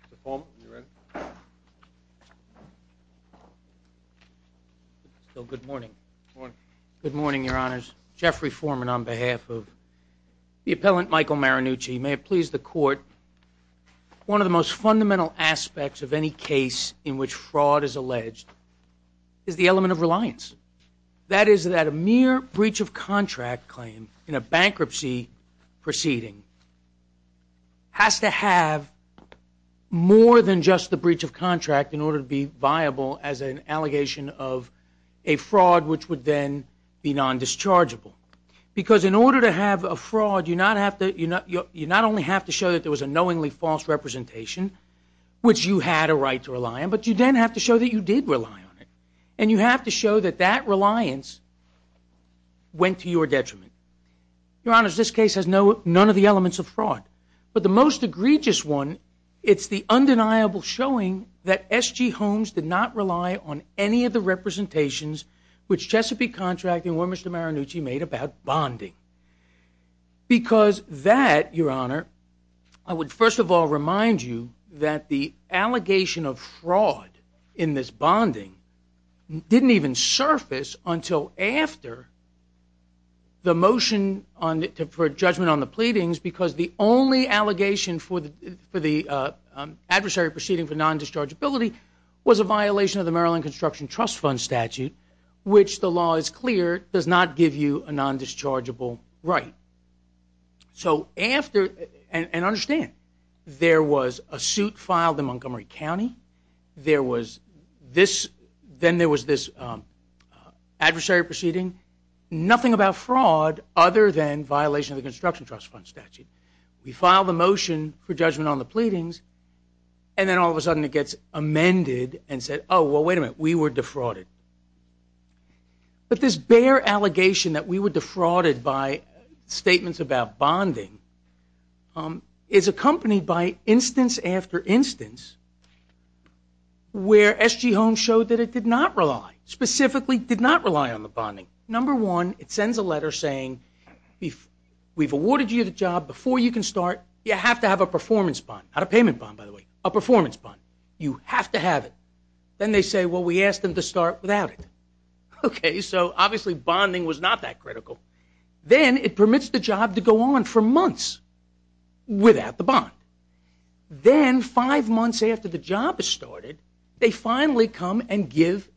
Mr. Foreman, you're in. Good morning. Good morning, your honors. Jeffrey Foreman on behalf of the appellant Michael Marinucci. May it please the court, one of the most fundamental aspects of any case in which fraud is alleged is the element of reliance. That is that a mere breach of contract claim in a bankruptcy proceeding has to have more than just the breach of contract in order to be viable as an allegation of a fraud which would then be non-dischargeable. Because in order to have a fraud, you not only have to show that there was a knowingly false representation, which you had a right to rely on, but you then have to show that you did rely on it. And you have to show that that reliance went to your detriment. Your honors, this case has none of the elements of fraud. But the most egregious one, it's the undeniable showing that SG Homes did not rely on any of the representations which Chesapeake Contracting or Mr. Marinucci made about bonding. Because that, your honor, I would first of all remind you that the allegation of fraud in this bonding didn't even surface until after the motion for judgment on the pleadings because the only allegation for the adversary proceeding for non-dischargeability was a violation of the Maryland Construction Trust Fund statute which the law is clear does not give you a non-dischargeable right. So after, and understand, there was a suit filed in Montgomery County. There was this, then there was this adversary proceeding. Nothing about fraud other than violation of the Construction Trust Fund statute. We filed a motion for judgment on the pleadings and then all of a sudden it gets amended and said, oh, well, wait a minute, we were defrauded. But this bare allegation that we were defrauded by statements about bonding is accompanied by instance after instance where S.G. Holmes showed that it did not rely, specifically did not rely on the bonding. Number one, it sends a letter saying we've awarded you the job. Before you can start, you have to have a performance bond, not a payment bond, by the way, a performance bond. You have to have it. Then they say, well, we asked them to start without it. So obviously bonding was not that critical. Then it permits the job to go on for months without the bond. Then five months after the job is started, they finally come and give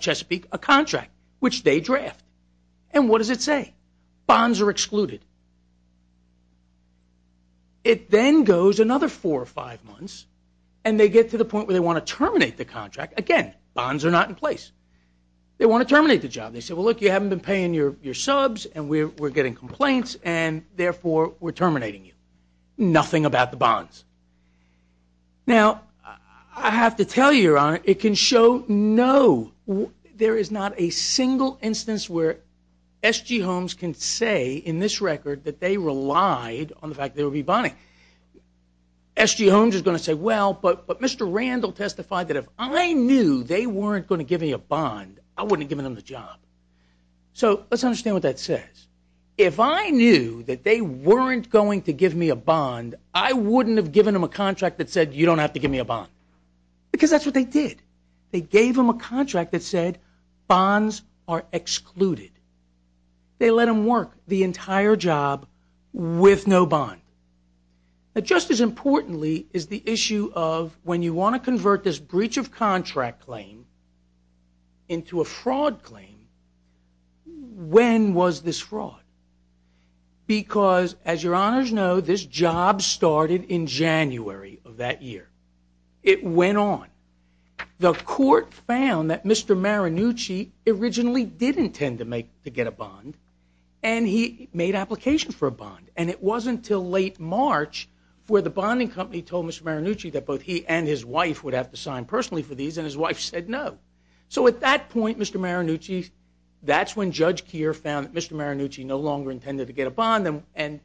Chesapeake a contract, which they draft. And what does it say? Bonds are excluded. It then goes another four or five months and they get to the point where they want to terminate the contract. Again, bonds are not in place. They want to terminate the job. They say, well, look, you haven't been paying your subs and we're getting complaints and therefore we're terminating you. Nothing about the bonds. Now, I have to tell you, Your Honor, it can show no. There is not a single instance where S.G. Holmes can say in this record that they relied on the fact that there would be bonding. S.G. Holmes is going to say, well, but Mr. Randall testified that if I knew they weren't going to give me a bond, I wouldn't have given them the job. So let's understand what that says. If I knew that they weren't going to give me a bond, I wouldn't have given them a contract that said you don't have to give me a bond because that's what they did. They gave them a contract that said bonds are excluded. They let them work the entire job with no bond. Now, just as importantly is the issue of when you want to convert this breach of contract claim into a fraud claim, when was this fraud? Because, as Your Honors know, this job started in January of that year. It went on. The court found that Mr. Maranucci originally did intend to get a bond and he made applications for a bond. And it wasn't until late March where the bonding company told Mr. Maranucci that both he and his wife would have to sign personally for these, and his wife said no. So at that point, Mr. Maranucci, that's when Judge Keir found that Mr. Maranucci no longer intended to get a bond, and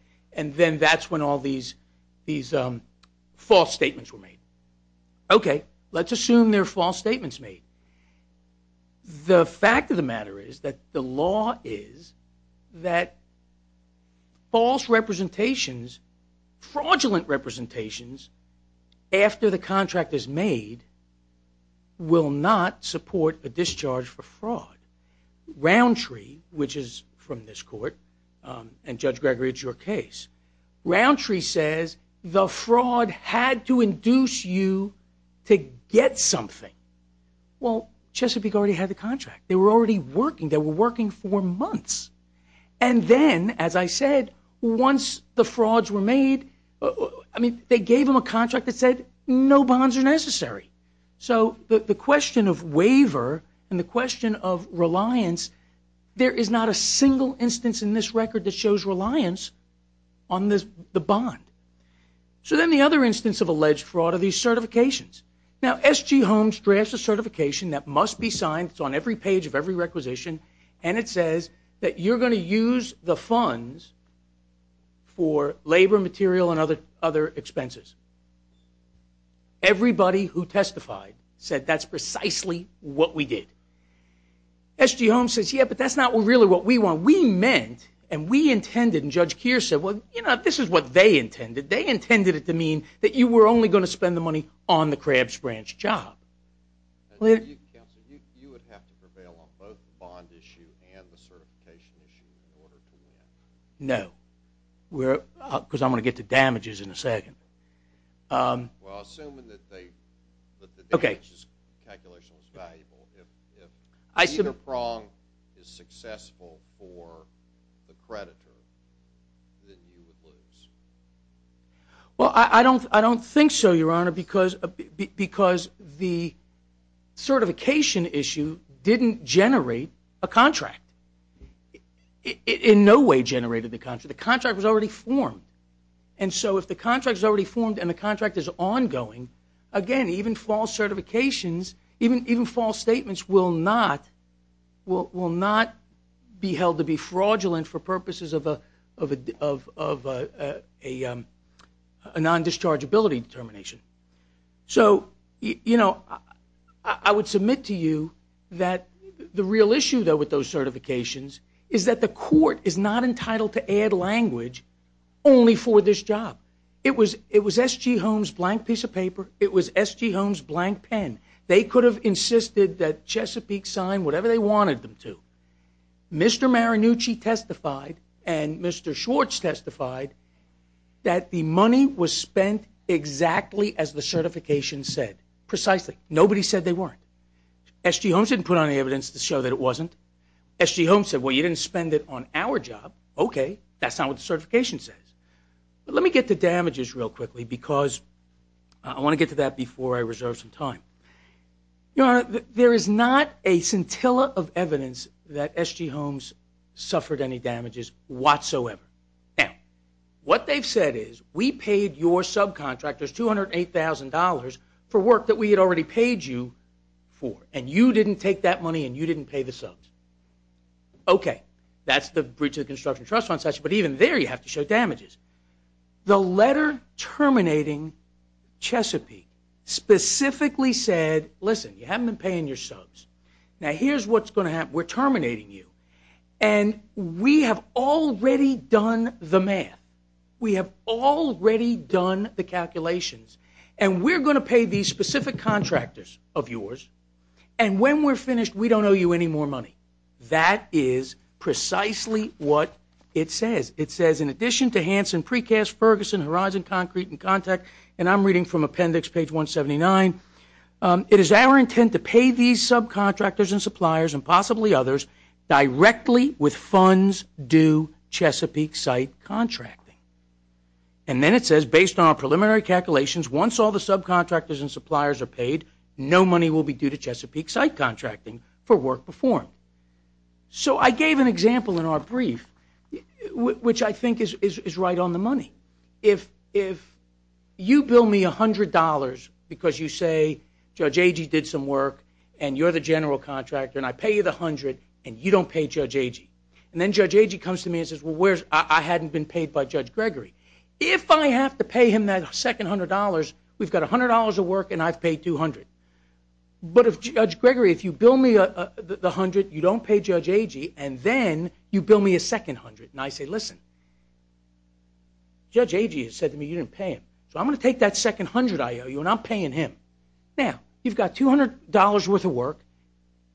then that's when all these false statements were made. Okay, let's assume they're false statements made. The fact of the matter is that the law is that false representations, fraudulent representations, after the contract is made will not support a discharge for fraud. Roundtree, which is from this court, and Judge Gregory, it's your case, Roundtree says the fraud had to induce you to get something. Well, Chesapeake already had the contract. They were already working. They were working for months. And then, as I said, once the frauds were made, I mean they gave them a contract that said no bonds are necessary. So the question of waiver and the question of reliance, there is not a single instance in this record that shows reliance on the bond. So then the other instance of alleged fraud are these certifications. Now, S.G. Holmes drafts a certification that must be signed. It's on every page of every requisition, and it says that you're going to use the funds for labor, material, and other expenses. Everybody who testified said that's precisely what we did. S.G. Holmes says, yeah, but that's not really what we want. We meant and we intended, and Judge Keir said, well, you know, this is what they intended. They intended it to mean that you were only going to spend the money on the Crabs Branch job. You would have to prevail on both the bond issue and the certification issue in order to win. No, because I'm going to get to damages in a second. Well, assuming that the damages calculation was valuable, if either prong is successful for the creditor, then you would lose. Well, I don't think so, Your Honor, because the certification issue didn't generate a contract. It in no way generated the contract. The contract was already formed. And so if the contract is already formed and the contract is ongoing, again, even false certifications, even false statements, will not be held to be fraudulent for purposes of a non-dischargeability determination. So, you know, I would submit to you that the real issue, though, with those certifications is that the court is not entitled to add language only for this job. It was S.G. Holmes' blank piece of paper. It was S.G. Holmes' blank pen. They could have insisted that Chesapeake sign whatever they wanted them to. Mr. Maranucci testified and Mr. Schwartz testified that the money was spent exactly as the certification said, precisely. Nobody said they weren't. S.G. Holmes didn't put on any evidence to show that it wasn't. S.G. Holmes said, well, you didn't spend it on our job. Okay, that's not what the certification says. But let me get to damages real quickly because I want to get to that before I reserve some time. Your Honor, there is not a scintilla of evidence that S.G. Holmes suffered any damages whatsoever. Now, what they've said is we paid your subcontractors $208,000 for work that we had already paid you for, and you didn't take that money and you didn't pay the subs. Okay, that's the breach of the construction trust fund statute, but even there you have to show damages. The letter terminating Chesapeake specifically said, listen, you haven't been paying your subs. Now, here's what's going to happen. We're terminating you, and we have already done the math. We have already done the calculations, and we're going to pay these specific contractors of yours, and when we're finished, we don't owe you any more money. That is precisely what it says. It says, in addition to Hanson, Precast, Ferguson, Horizon, Concrete, and Contact, and I'm reading from appendix page 179, it is our intent to pay these subcontractors and suppliers and possibly others directly with funds due to Chesapeake site contracting. And then it says, based on our preliminary calculations, once all the subcontractors and suppliers are paid, no money will be due to Chesapeake site contracting for work performed. So I gave an example in our brief, which I think is right on the money. If you bill me $100 because you say, Judge Agee did some work, and you're the general contractor, and I pay you the $100, and you don't pay Judge Agee, and then Judge Agee comes to me and says, well, I hadn't been paid by Judge Gregory. If I have to pay him that second $100, we've got $100 of work, and I've paid $200. But if Judge Gregory, if you bill me the $100, you don't pay Judge Agee, and then you bill me a second $100. And I say, listen, Judge Agee has said to me you didn't pay him, so I'm going to take that second $100 I owe you, and I'm paying him. Now, you've got $200 worth of work.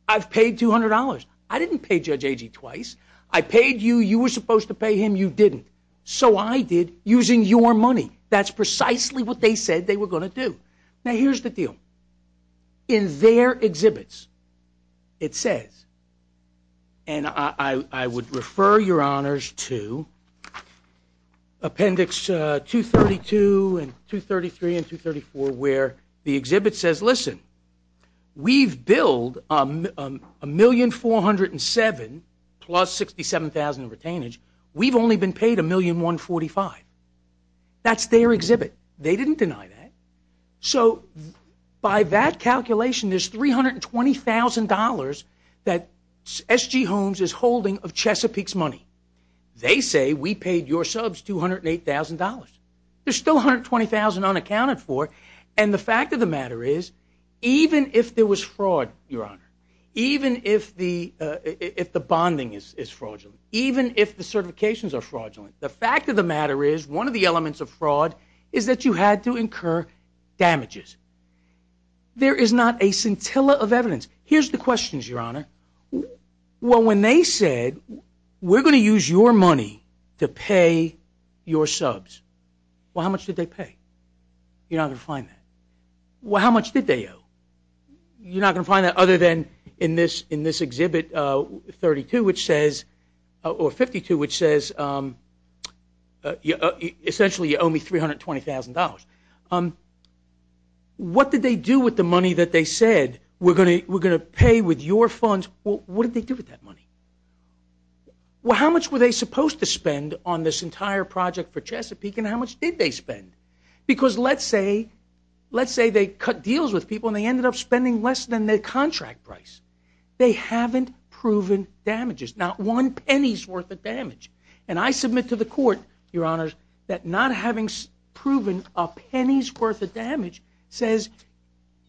I've paid $200. I didn't pay Judge Agee twice. I paid you. You were supposed to pay him. You didn't. So I did using your money. That's precisely what they said they were going to do. Now, here's the deal. In their exhibits, it says, and I would refer your honors to Appendix 232 and 233 and 234, where the exhibit says, listen, we've billed $1,407,000 plus $67,000 of retainage. We've only been paid $1,145,000. That's their exhibit. They didn't deny that. So by that calculation, there's $320,000 that S.G. Holmes is holding of Chesapeake's money. They say we paid your subs $208,000. There's still $120,000 unaccounted for. And the fact of the matter is, even if there was fraud, Your Honor, even if the bonding is fraudulent, even if the certifications are fraudulent, the fact of the matter is one of the elements of fraud is that you had to incur damages. There is not a scintilla of evidence. Here's the questions, Your Honor. Well, when they said we're going to use your money to pay your subs, well, how much did they pay? You're not going to find that. Well, how much did they owe? You're not going to find that other than in this exhibit 52, which says essentially you owe me $320,000. What did they do with the money that they said we're going to pay with your funds? What did they do with that money? Well, how much were they supposed to spend on this entire project for Chesapeake, and how much did they spend? Because let's say they cut deals with people and they ended up spending less than their contract price. They haven't proven damages, not one penny's worth of damage. And I submit to the court, Your Honor, that not having proven a penny's worth of damage says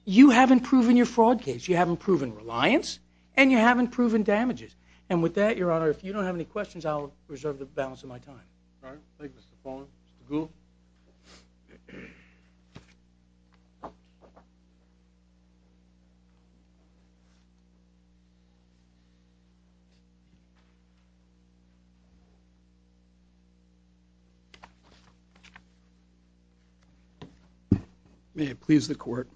you haven't proven your fraud case, you haven't proven reliance, and you haven't proven damages. And with that, Your Honor, if you don't have any questions, I'll reserve the balance of my time. All right. Thank you, Mr. Follin. Mr. Gould? May it please the Court,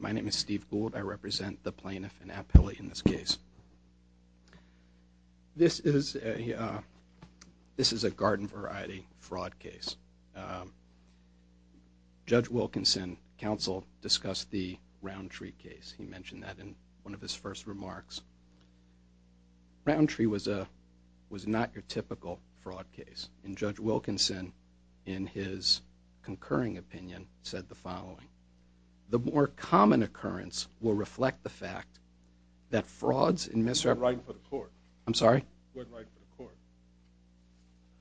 my name is Steve Gould. I represent the plaintiff and appellate in this case. This is a garden variety fraud case. Judge Wilkinson, counsel, discussed the Roundtree case. He mentioned that in one of his first remarks. Roundtree was not your typical fraud case. And Judge Wilkinson, in his concurring opinion, said the following. The more common occurrence will reflect the fact that frauds and misrepresentations... He wasn't writing for the court. He wasn't writing for the court.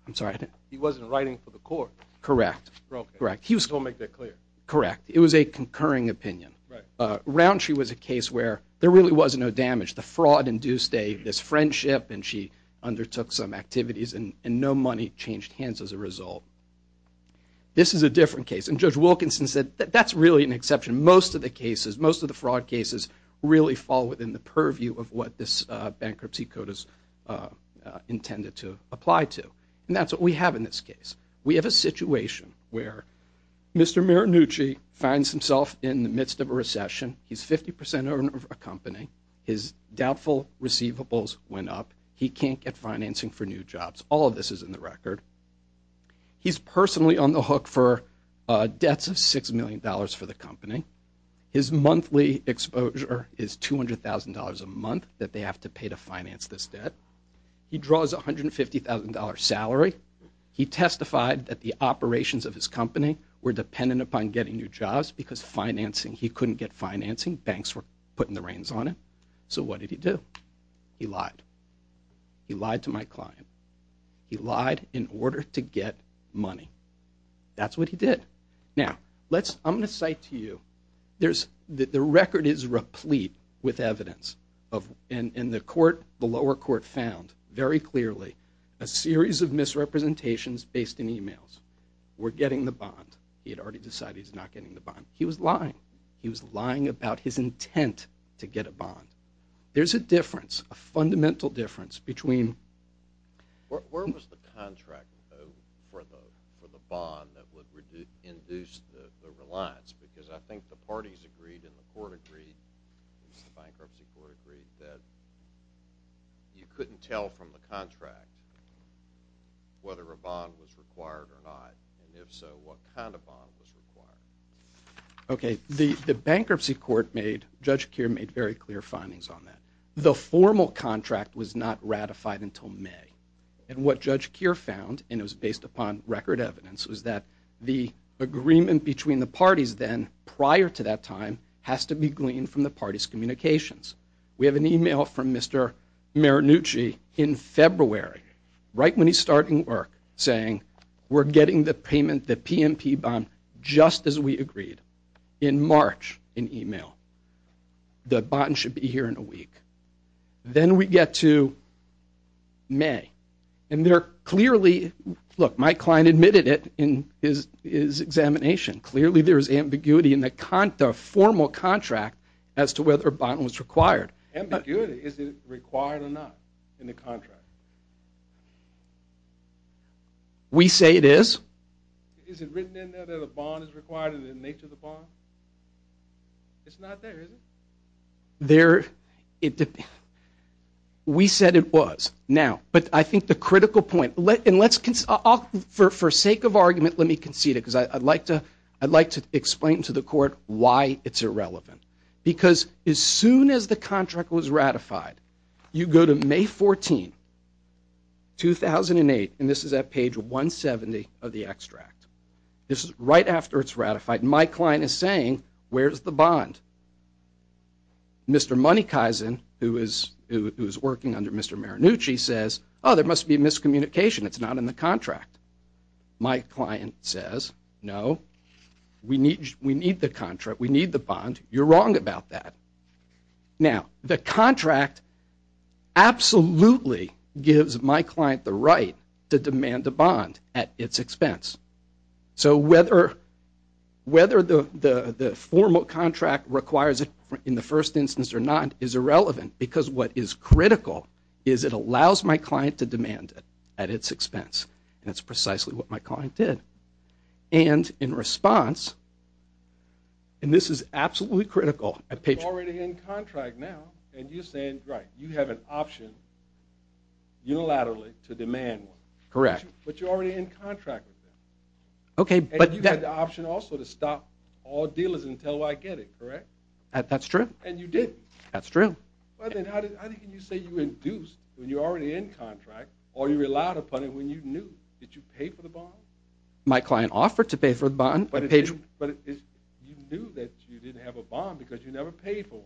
I'm sorry? He wasn't writing for the court. Correct. Okay. Correct. He was... Don't make that clear. Correct. It was a concurring opinion. Right. Roundtree was a case where there really was no damage. The fraud induced this friendship and she undertook some activities and no money changed hands as a result. This is a different case. And Judge Wilkinson said that that's really an exception. Most of the cases, most of the fraud cases, really fall within the purview of what this bankruptcy code is intended to apply to. And that's what we have in this case. We have a situation where Mr. Mirannucci finds himself in the midst of a recession. He's 50% of a company. His doubtful receivables went up. He can't get financing for new jobs. All of this is in the record. He's personally on the hook for debts of $6 million for the company. His monthly exposure is $200,000 a month that they have to pay to finance this debt. He draws a $150,000 salary. He testified that the operations of his company were dependent upon getting new jobs because financing... He couldn't get financing. Banks were putting the reins on it. So what did he do? He lied. He lied to my client. He lied in order to get money. That's what he did. Now, let's... I'm going to cite to you... There's... The record is replete with evidence of... And the court, the lower court, found very clearly a series of misrepresentations based in emails. We're getting the bond. He had already decided he's not getting the bond. He was lying. He was lying about his intent to get a bond. There's a difference, a fundamental difference between... Where was the contract for the bond that would induce the reliance? Because I think the parties agreed and the court agreed, the bankruptcy court agreed, that you couldn't tell from the contract whether a bond was required or not. And if so, what kind of bond was required? Okay. The bankruptcy court made... Judge Keir made very clear findings on that. The formal contract was not ratified until May. And what Judge Keir found, and it was based upon record evidence, was that the agreement between the parties then, prior to that time, has to be gleaned from the parties' communications. We have an email from Mr. Marinucci in February, right when he's starting work, saying, we're getting the payment, the PMP bond, just as we agreed, in March, in email. The bond should be here in a week. Then we get to May. And they're clearly... Look, my client admitted it in his examination. Clearly there is ambiguity in the formal contract as to whether a bond was required. Ambiguity? Is it required or not in the contract? We say it is. Is it written in there that a bond is required in the nature of the bond? It's not there, is it? There... We said it was. Now, but I think the critical point, and let's... For sake of argument, let me concede it, because I'd like to explain to the court why it's irrelevant. Because as soon as the contract was ratified, you go to May 14, 2008, and this is at page 170 of the extract. This is right after it's ratified. My client is saying, where's the bond? Mr. Moneykaisen, who is working under Mr. Marinucci, says, oh, there must be miscommunication. It's not in the contract. We need the contract. We need the bond. You're wrong about that. Now, the contract absolutely gives my client the right to demand a bond at its expense. So whether the formal contract requires it in the first instance or not is irrelevant, because what is critical is it allows my client to demand it at its expense, and it's precisely what my client did. And in response, and this is absolutely critical at page... But you're already in contract now, and you're saying, right, you have an option unilaterally to demand one. Correct. But you're already in contract with them. Okay, but... And you had the option also to stop all dealers until I get it, correct? That's true. And you did. That's true. But then how can you say you induced when you're already in contract, or you relied upon it when you knew? Did you pay for the bond? My client offered to pay for the bond. But you knew that you didn't have a bond because you never paid for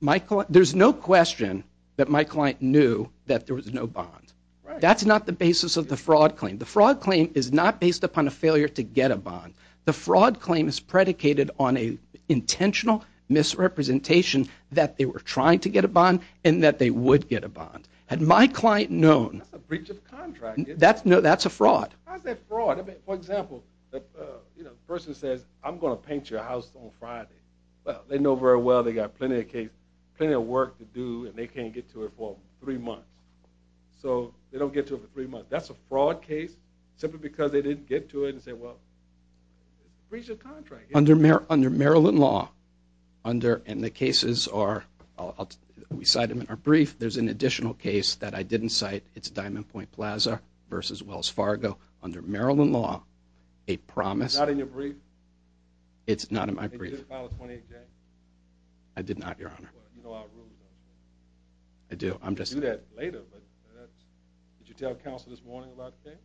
one. There's no question that my client knew that there was no bond. That's not the basis of the fraud claim. The fraud claim is not based upon a failure to get a bond. The fraud claim is predicated on an intentional misrepresentation that they were trying to get a bond and that they would get a bond. Had my client known... That's a breach of contract. No, that's a fraud. How's that fraud? For example, the person says, I'm going to paint your house on Friday. Well, they know very well they got plenty of work to do and they can't get to it for three months. So they don't get to it for three months. That's a fraud case simply because they didn't get to it and say, well, breach of contract. Under Maryland law, and the cases are, we cite them in our brief, there's an additional case that I didn't cite. It's Diamond Point Plaza v. Wells Fargo. Under Maryland law, a promise... It's not in your brief? It's not in my brief. Did you file a 28-day? I did not, Your Honor. Well, you know our rules, don't you? I do. I'm just... We'll do that later, but did you tell counsel this morning about the case?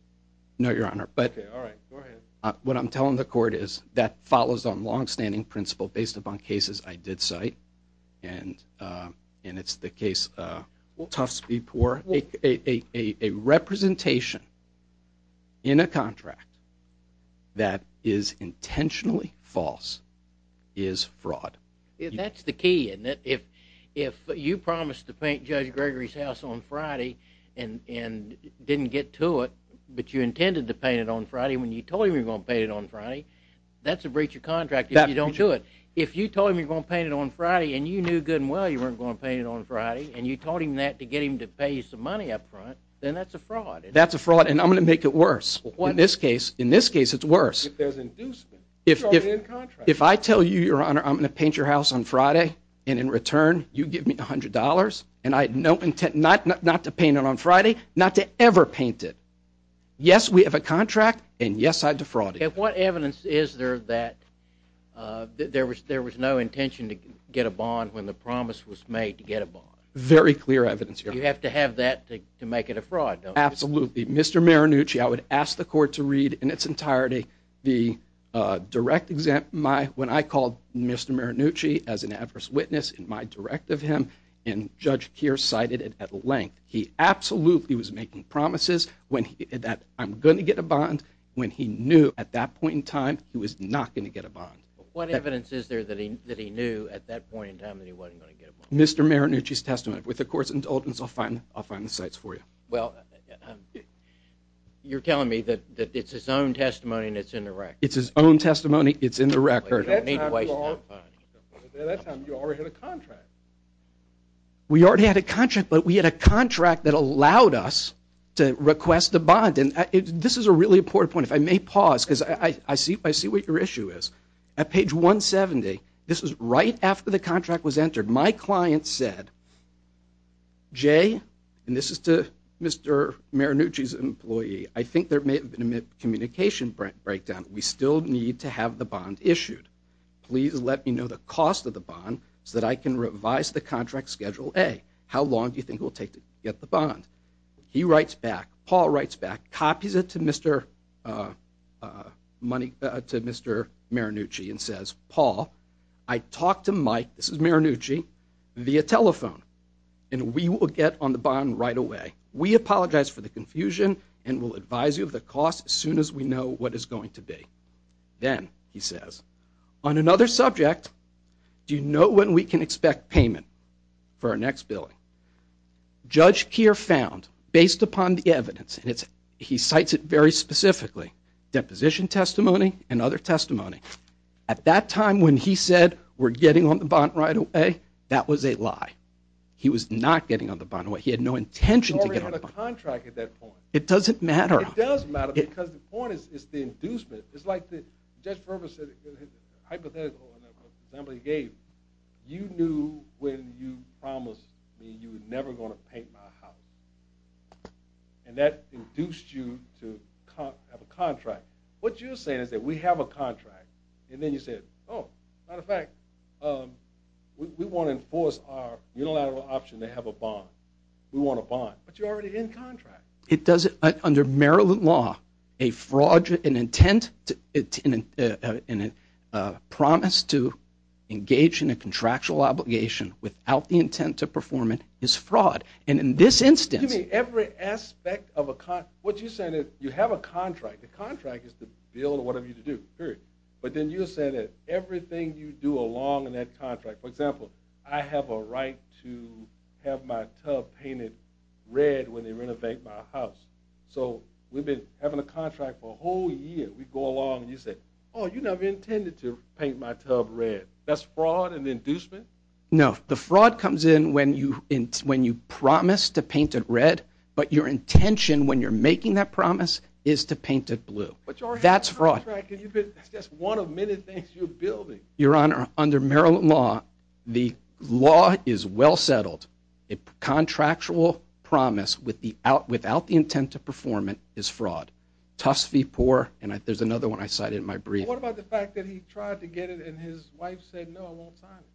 No, Your Honor, but... Okay, all right, go ahead. What I'm telling the court is that follows on longstanding principle based upon cases I did cite. And it's the case Tufts v. Poore. A representation in a contract that is intentionally false is fraud. That's the key, isn't it? If you promised to paint Judge Gregory's house on Friday and didn't get to it, but you intended to paint it on Friday when you told him you were going to paint it on Friday, that's a breach of contract if you don't do it. If you told him you were going to paint it on Friday and you knew good and well you weren't going to paint it on Friday and you told him that to get him to pay you some money up front, then that's a fraud. That's a fraud, and I'm going to make it worse. In this case, it's worse. If there's inducement. If I tell you, Your Honor, I'm going to paint your house on Friday, and in return you give me $100, and I have no intent not to paint it on Friday, not to ever paint it. Yes, we have a contract, and yes, I defrauded you. Okay, what evidence is there that there was no intention to get a bond when the promise was made to get a bond? Very clear evidence, Your Honor. You have to have that to make it a fraud, don't you? Absolutely. Mr. Marannucci, I would ask the court to read in its entirety the direct example. When I called Mr. Marannucci as an adverse witness in my directive him, and Judge Keir cited it at length. He absolutely was making promises that I'm going to get a bond when he knew at that point in time he was not going to get a bond. What evidence is there that he knew at that point in time that he wasn't going to get a bond? Mr. Marannucci's testament. With the court's indulgence, I'll find the sites for you. Well, you're telling me that it's his own testimony and it's in the record. It's his own testimony. It's in the record. At that time, Your Honor, you already had a contract. We already had a contract, but we had a contract that allowed us to request a bond. And this is a really important point. If I may pause, because I see what your issue is. At page 170, this is right after the contract was entered, my client said, Jay, and this is to Mr. Marannucci's employee, I think there may have been a communication breakdown. We still need to have the bond issued. Please let me know the cost of the bond so that I can revise the contract schedule A. How long do you think it will take to get the bond? He writes back, Paul writes back, copies it to Mr. Marannucci and says, Paul, I talked to Mike, this is Marannucci, via telephone, and we will get on the bond right away. We apologize for the confusion and will advise you of the cost as soon as we know what it's going to be. Then he says, on another subject, do you know when we can expect payment for our next billing? Judge Keir found, based upon the evidence, and he cites it very specifically, deposition testimony and other testimony. At that time when he said we're getting on the bond right away, that was a lie. He was not getting on the bond right away. He had no intention to get on the bond. It doesn't matter. It does matter because the point is the inducement. It's like Judge Ferber said, hypothetically, you knew when you promised me you were never going to paint my house, and that induced you to have a contract. What you're saying is that we have a contract, and then you said, oh, as a matter of fact, we want to enforce our unilateral option to have a bond. We want a bond, but you're already in contract. Under Maryland law, a fraudulent intent and a promise to engage in a contractual obligation without the intent to perform it is fraud, and in this instance. You mean every aspect of a contract? What you're saying is you have a contract. The contract is to bill whatever you do, period. But then you're saying that everything you do along in that contract, for example, I have a right to have my tub painted red when they renovate my house. So we've been having a contract for a whole year. We go along, and you say, oh, you never intended to paint my tub red. That's fraud and inducement? No, the fraud comes in when you promise to paint it red, but your intention when you're making that promise is to paint it blue. That's fraud. That's just one of many things you're building. Your Honor, under Maryland law, the law is well settled. A contractual promise without the intent to perform it is fraud. There's another one I cited in my brief. What about the fact that he tried to get it and his wife said, no, I won't sign it?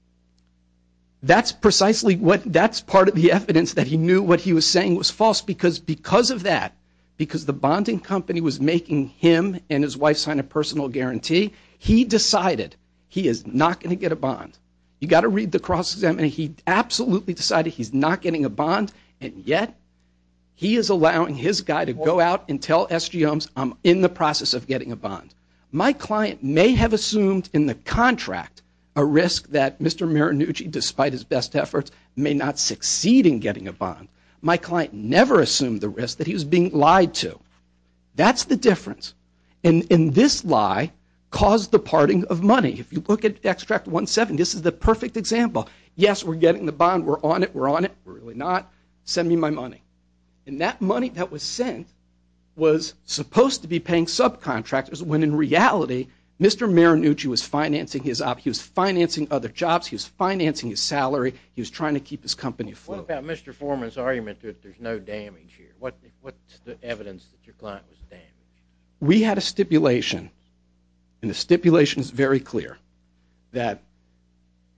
That's precisely part of the evidence that he knew what he was saying was false because because of that, because the bonding company was making him and his wife sign a personal guarantee, he decided he is not going to get a bond. You've got to read the cross-examination. He absolutely decided he's not getting a bond, and yet he is allowing his guy to go out and tell SGMs I'm in the process of getting a bond. My client may have assumed in the contract a risk that Mr. Marinucci, despite his best efforts, may not succeed in getting a bond. My client never assumed the risk that he was being lied to. That's the difference. And this lie caused the parting of money. If you look at extract 17, this is the perfect example. Yes, we're getting the bond. We're on it. We're on it. We're really not. Send me my money. And that money that was sent was supposed to be paying subcontractors when in reality Mr. Marinucci was financing other jobs. He was financing his salary. He was trying to keep his company afloat. What about Mr. Foreman's argument that there's no damage here? What's the evidence that your client was damaged? We had a stipulation, and the stipulation is very clear, that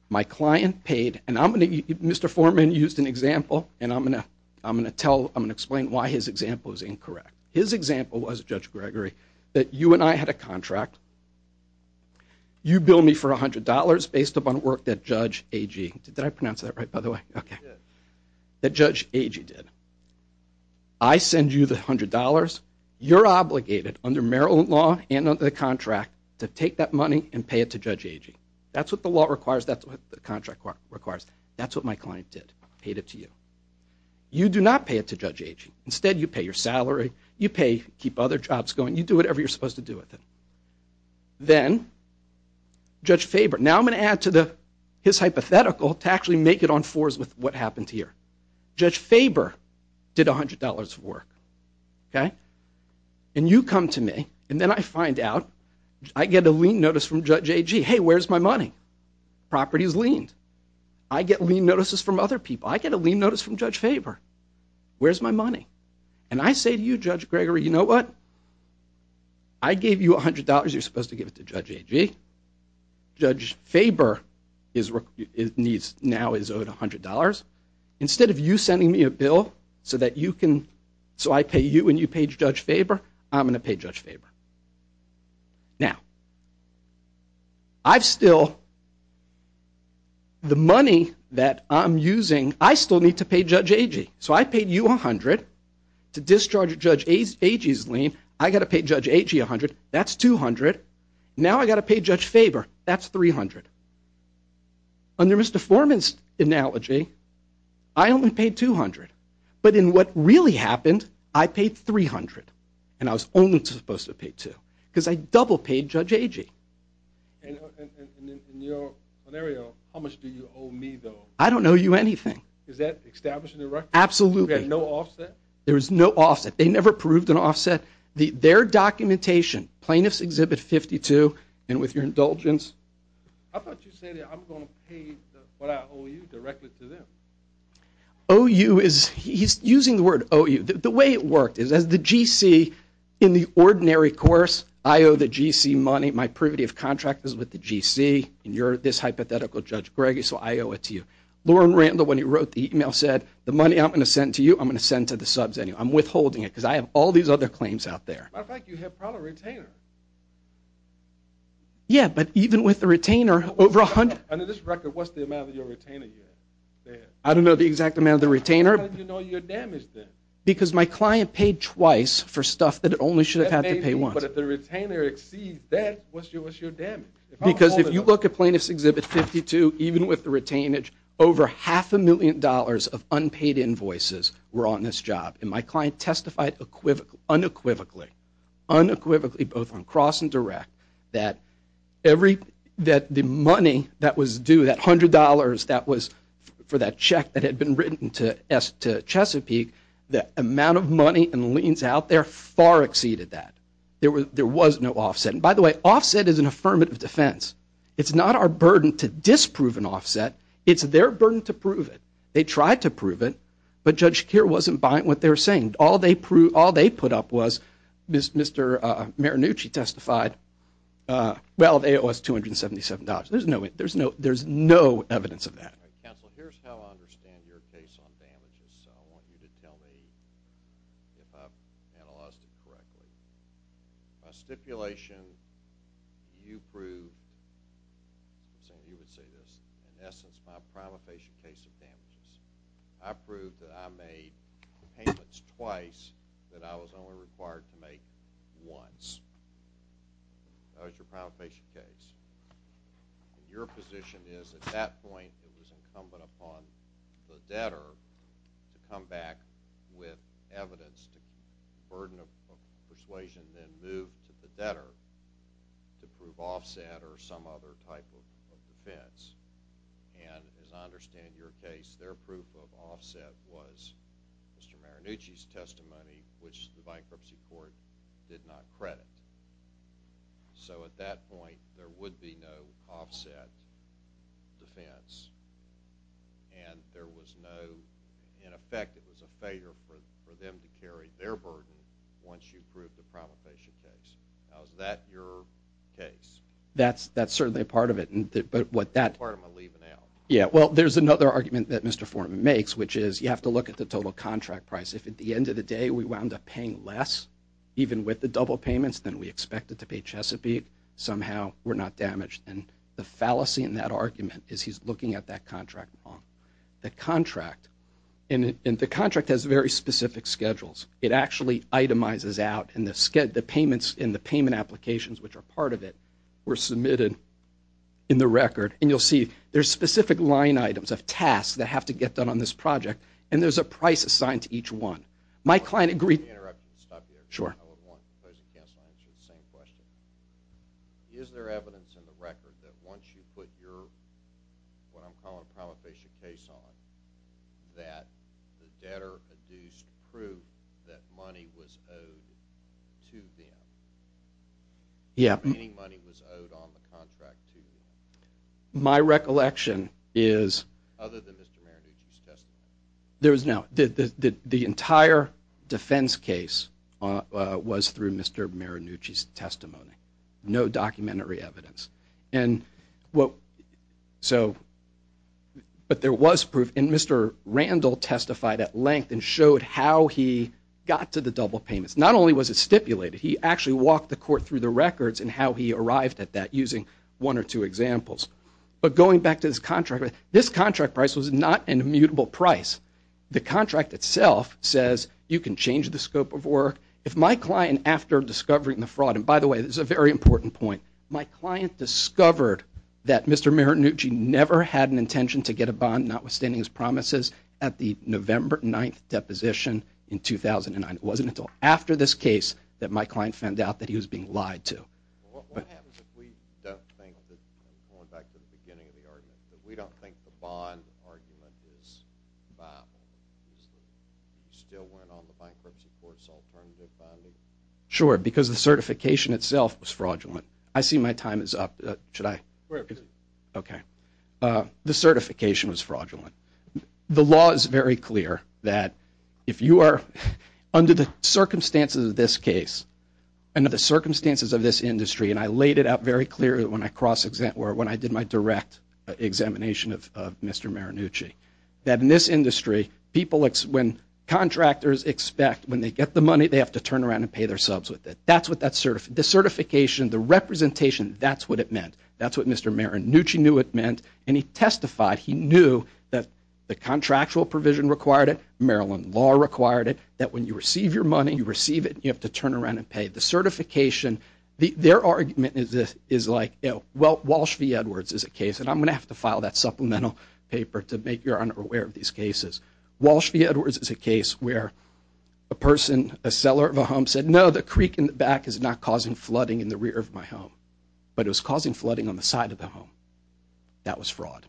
my client paid, and Mr. Foreman used an example, and I'm going to explain why his example is incorrect. His example was, Judge Gregory, that you and I had a contract. You bill me for $100 based upon work that Judge Agee did. Did I pronounce that right, by the way? That Judge Agee did. I send you the $100. You're obligated under Maryland law and under the contract to take that money and pay it to Judge Agee. That's what the law requires. That's what the contract requires. That's what my client did, paid it to you. You do not pay it to Judge Agee. Instead, you pay your salary. You pay to keep other jobs going. You do whatever you're supposed to do with it. Then Judge Faber, now I'm going to add to his hypothetical to actually make it on fours with what happened here. Judge Faber did $100 of work, and you come to me, and then I find out I get a lien notice from Judge Agee. Hey, where's my money? Property is liened. I get lien notices from other people. I get a lien notice from Judge Faber. Where's my money? And I say to you, Judge Gregory, you know what? I gave you $100. You're supposed to give it to Judge Agee. Judge Faber now is owed $100. Instead of you sending me a bill so I pay you and you pay Judge Faber, I'm going to pay Judge Faber. Now, I've still, the money that I'm using, I still need to pay Judge Agee. So I paid you $100 to discharge Judge Agee's lien. I've got to pay Judge Agee $100. That's $200. Now I've got to pay Judge Faber. That's $300. Under Mr. Foreman's analogy, I only paid $200. But in what really happened, I paid $300, and I was only supposed to pay $200 because I double-paid Judge Agee. And in your scenario, how much do you owe me, though? I don't owe you anything. Is that establishing the record? Absolutely. You've got no offset? There is no offset. They never proved an offset. Their documentation, Plaintiff's Exhibit 52, and with your indulgence. I thought you said, I'm going to pay what I owe you directly to them. OU is, he's using the word OU. The way it worked is as the GC in the ordinary course, I owe the GC money. My privity of contract is with the GC, and you're this hypothetical Judge Greggie, so I owe it to you. Loren Randall, when he wrote the email, said, the money I'm going to send to you, I'm going to send to the subs anyway. I'm withholding it because I have all these other claims out there. As a matter of fact, you have probably a retainer. Yeah, but even with the retainer, over 100. Under this record, what's the amount of your retainer you have? I don't know the exact amount of the retainer. How did you know your damage, then? Because my client paid twice for stuff that it only should have had to pay once. But if the retainer exceeds that, what's your damage? Because if you look at Plaintiff's Exhibit 52, even with the retainage, over half a million dollars of unpaid invoices were on this job, and my client testified unequivocally, unequivocally, both on cross and direct, that the money that was due, that $100 that was for that check that had been written to Chesapeake, the amount of money and liens out there far exceeded that. There was no offset. And by the way, offset is an affirmative defense. It's not our burden to disprove an offset. It's their burden to prove it. They tried to prove it, but Judge Shakir wasn't buying what they were saying. All they put up was, Mr. Maranucci testified, well, it was $277. There's no evidence of that. Counsel, here's how I understand your case on damages. So I want you to tell me if I've analyzed it correctly. By stipulation, you prove, you would say this, in essence, my prima facie case of damages. I proved that I made payments twice that I was only required to make once. That was your prima facie case. Your position is, at that point, it was incumbent upon the debtor to come back with evidence to burden of persuasion, then move to the debtor to prove offset or some other type of defense. And as I understand your case, their proof of offset was Mr. Maranucci's testimony, which the bankruptcy court did not credit. So at that point, there would be no offset defense. And there was no, in effect, it was a failure for them to carry their burden once you proved the prima facie case. Now, is that your case? That's certainly a part of it, but what that... Part of my leave-and-out. Yeah, well, there's another argument that Mr. Foreman makes, which is you have to look at the total contract price. If at the end of the day we wound up paying less, even with the double payments, than we expected to pay Chesapeake, somehow we're not damaged. And the fallacy in that argument is he's looking at that contract wrong. The contract, and the contract has very specific schedules. It actually itemizes out, and the payments and the payment applications, which are part of it, were submitted in the record. And you'll see there's specific line items of tasks that have to get done on this project, and there's a price assigned to each one. My client agreed... Let me interrupt you and stop you there. Sure. I would want the opposing counsel to answer the same question. Is there evidence in the record that once you put your, what I'm calling a prima facie case on, that the debtor adduced proof that money was owed to them? Yeah. Any money was owed on the contract to you? My recollection is... Other than Mr. Maranucci's testimony. There is no... The entire defense case was through Mr. Maranucci's testimony. No documentary evidence. And what... So... But there was proof, and Mr. Randall testified at length and showed how he got to the double payments. Not only was it stipulated, he actually walked the court through the records and how he arrived at that using one or two examples. But going back to this contract, this contract price was not an immutable price. The contract itself says you can change the scope of work. If my client, after discovering the fraud... And by the way, this is a very important point. My client discovered that Mr. Maranucci never had an intention to get a bond notwithstanding his promises at the November 9th deposition in 2009. It wasn't until after this case that my client found out that he was being lied to. What happens if we don't think that... Going back to the beginning of the argument, if we don't think the bond argument is viable? You still went on the bankruptcy course alternatively? Sure, because the certification itself was fraudulent. I see my time is up. Should I... We're good. Okay. The certification was fraudulent. The law is very clear that if you are under the circumstances of this case and under the circumstances of this industry, and I laid it out very clearly when I did my direct examination of Mr. Maranucci, that in this industry, when contractors expect, when they get the money, they have to turn around and pay their subs with it. The certification, the representation, that's what it meant. That's what Mr. Maranucci knew it meant, and he testified he knew that the contractual provision required it, Maryland law required it, that when you receive your money, you receive it, and you have to turn around and pay. The certification, their argument is like, well, Walsh v. Edwards is a case, and I'm going to have to file that supplemental paper to make your owner aware of these cases. Walsh v. Edwards is a case where a person, a seller of a home said, no, the creek in the back is not causing flooding in the rear of my home, but it was causing flooding on the side of the home. That was fraud,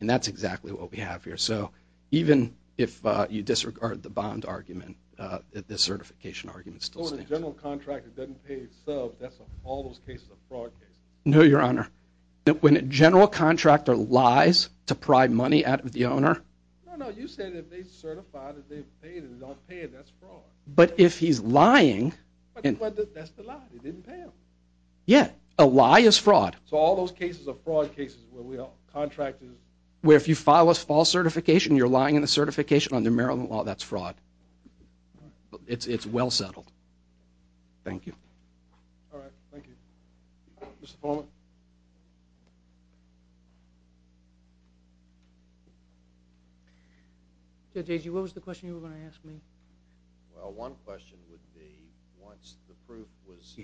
and that's exactly what we have here. So even if you disregard the bond argument, the certification argument still stands. So when a general contractor doesn't pay his subs, that's all those cases of fraud cases? No, Your Honor. When a general contractor lies to pry money out of the owner. No, no, you said if they certify that they've paid and they don't pay it, that's fraud. But if he's lying. But that's the lie, they didn't pay him. Yeah, a lie is fraud. So all those cases of fraud cases where if you file a false certification, you're lying in the certification under Maryland law, that's fraud. It's well settled. Thank you. All right, thank you. Mr. Polman. So, J.G., what was the question you were going to ask me? Well, one question would be once the proof was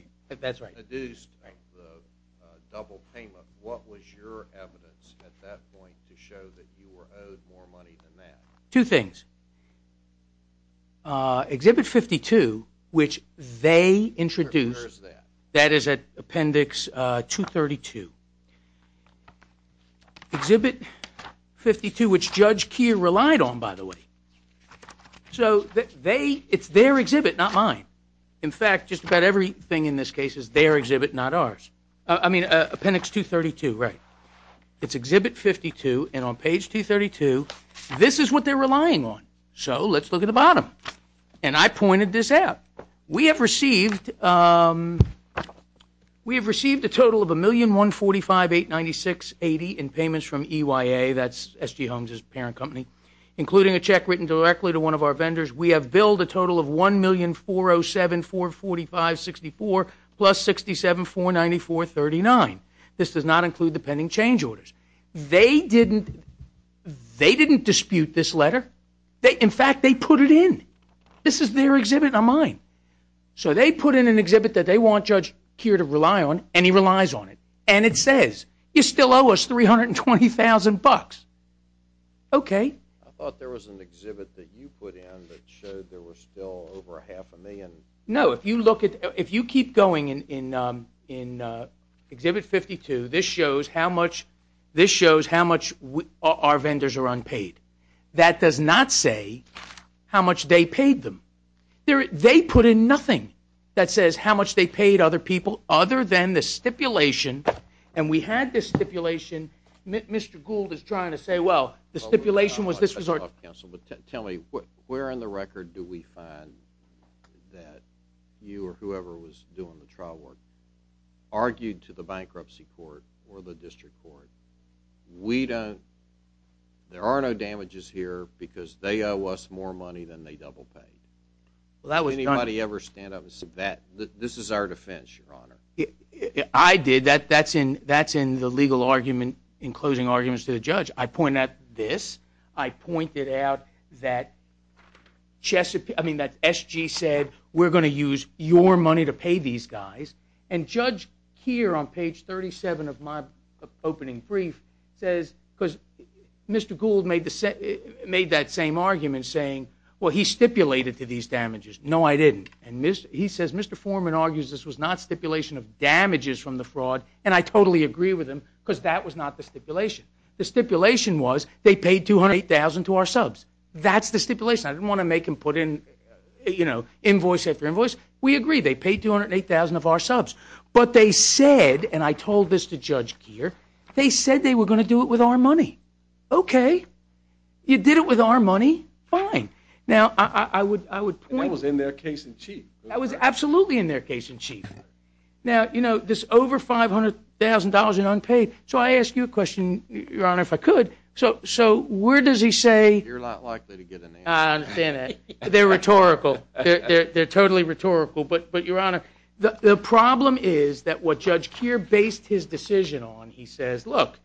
produced, the double payment, what was your evidence at that point to show that you were owed more money than that? Two things. Exhibit 52, which they introduced. Where is that? That is at Appendix 232. Exhibit 52, which Judge Keogh relied on, by the way. So it's their exhibit, not mine. In fact, just about everything in this case is their exhibit, not ours. I mean Appendix 232, right. It's Exhibit 52, and on page 232, this is what they're relying on. So let's look at the bottom. And I pointed this out. We have received a total of $1,145,896.80 in payments from EYA, that's S.G. Holmes' parent company, including a check written directly to one of our vendors. We have billed a total of $1,407,445.64 plus $67,494.39. This does not include the pending change orders. They didn't dispute this letter. In fact, they put it in. This is their exhibit, not mine. So they put in an exhibit that they want Judge Keogh to rely on, and he relies on it. And it says, you still owe us $320,000. Okay. I thought there was an exhibit that you put in that showed there were still over half a million. No, if you keep going in Exhibit 52, this shows how much our vendors are unpaid. That does not say how much they paid them. They put in nothing that says how much they paid other people other than the stipulation. And we had this stipulation. Mr. Gould is trying to say, well, the stipulation was this was our... Tell me, where in the record do we find that you or whoever was doing the trial work argued to the bankruptcy court or the district court, we don't, there are no damages here because they owe us more money than they double-paid. Did anybody ever stand up and say that? This is our defense, Your Honor. I did. That's in the legal argument, in closing arguments to the judge. I point out this. I pointed out that SG said, we're going to use your money to pay these guys. And Judge here on page 37 of my opening brief says, because Mr. Gould made that same argument saying, well, he stipulated to these damages. No, I didn't. And he says, Mr. Foreman argues this was not stipulation of damages from the fraud, and I totally agree with him because that was not the stipulation. The stipulation was they paid $208,000 to our subs. That's the stipulation. I didn't want to make him put in invoice after invoice. We agree. They paid $208,000 of our subs. But they said, and I told this to Judge Geer, they said they were going to do it with our money. Okay. You did it with our money. Fine. And that was in their case in chief. That was absolutely in their case in chief. Now, this over $500,000 in unpaid, so I ask you a question, Your Honor, if I could. So where does he say... You're not likely to get an answer. I understand that. They're rhetorical. They're totally rhetorical. But, Your Honor, the problem is that what Judge Geer based his decision on, he says, look,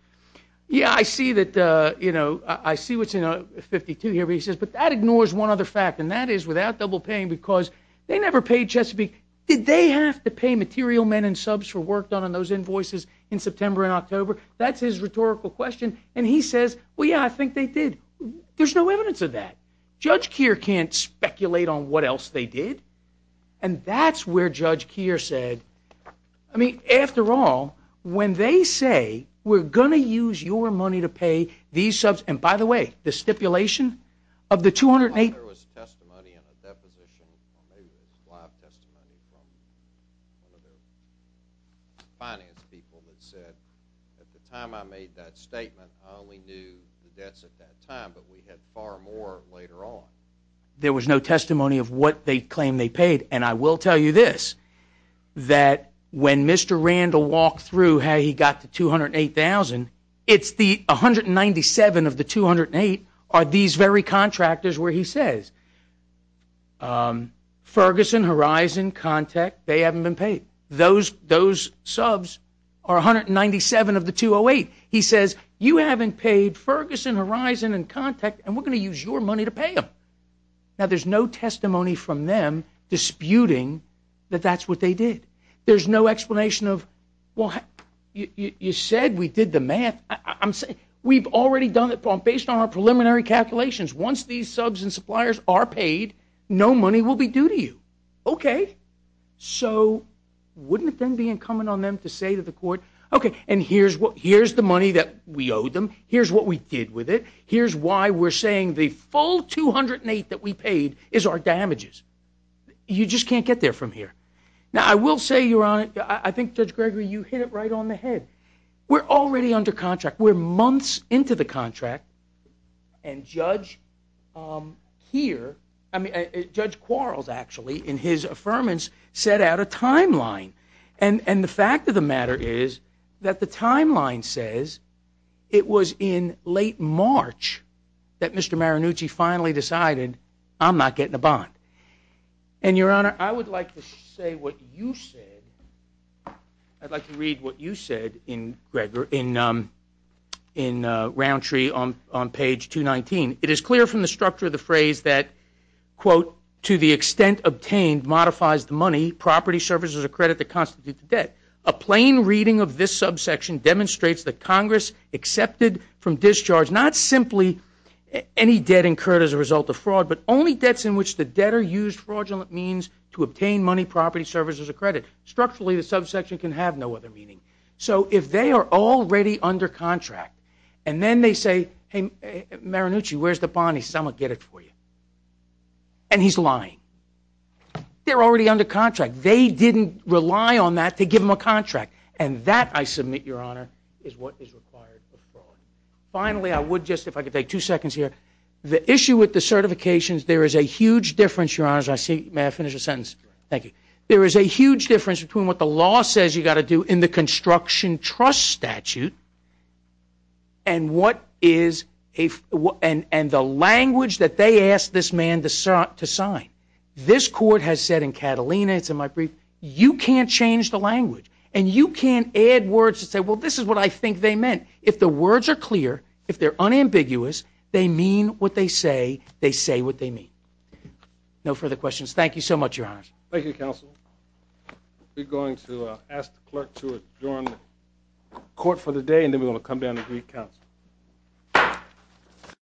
yeah, I see that, you know, I see what's in 52 here, but he says, but that ignores one other fact, and that is without double paying because they never paid Chesapeake. Did they have to pay material men and subs for work done on those invoices in September and October? That's his rhetorical question. And he says, well, yeah, I think they did. There's no evidence of that. Judge Geer can't speculate on what else they did. And that's where Judge Geer said, I mean, after all, when they say we're going to use your money to pay these subs, and by the way, the stipulation of the $200,000... There was testimony in a deposition, or maybe it was live testimony from one of the finance people that said, at the time I made that statement, I only knew the debts at that time, but we had far more later on. There was no testimony of what they claimed they paid, and I will tell you this, that when Mr. Randall walked through how he got the $208,000, it's the 197 of the 208 are these very contractors where he says, Ferguson, Horizon, Contact, they haven't been paid. Those subs are 197 of the 208. He says, you haven't paid Ferguson, Horizon, and Contact, and we're going to use your money to pay them. Now, there's no testimony from them disputing that that's what they did. There's no explanation of, well, you said we did the math. We've already done it based on our preliminary calculations. Once these subs and suppliers are paid, no money will be due to you. Okay, so wouldn't it then be incumbent on them to say to the court, okay, and here's the money that we owed them. Here's what we did with it. Here's why we're saying the full 208 that we paid is our damages. You just can't get there from here. Now, I will say, Your Honor, I think, Judge Gregory, you hit it right on the head. We're already under contract. We're months into the contract, and Judge Quarles, actually, in his affirmance, set out a timeline. And the fact of the matter is that the timeline says it was in late March that Mr. Maranucci finally decided, I'm not getting a bond. And, Your Honor, I would like to say what you said. I'd like to read what you said in Roundtree on page 219. It is clear from the structure of the phrase that, quote, to the extent obtained modifies the money, property, services, or credit that constitute the debt. A plain reading of this subsection demonstrates that Congress accepted from discharge not simply any debt incurred as a result of fraud, but only debts in which the debtor used fraudulent means to obtain money, property, services, or credit. Structurally, the subsection can have no other meaning. So if they are already under contract and then they say, hey, Maranucci, where's the bond? He says, I'm going to get it for you. And he's lying. They're already under contract. They didn't rely on that to give him a contract. And that, I submit, Your Honor, is what is required of fraud. Finally, I would just, if I could take two seconds here, the issue with the certifications, there is a huge difference, Your Honors, I see, may I finish a sentence? Thank you. There is a huge difference between what the law says you've got to do in the construction trust statute and the language that they asked this man to sign. This court has said in Catalina, it's in my brief, you can't change the language. And you can't add words to say, well, this is what I think they meant. If the words are clear, if they're unambiguous, they mean what they say, they say what they mean. No further questions. Thank you so much, Your Honors. Thank you, Counsel. We're going to ask the clerk to adjourn the court for the day, and then we're going to come down and read counsel.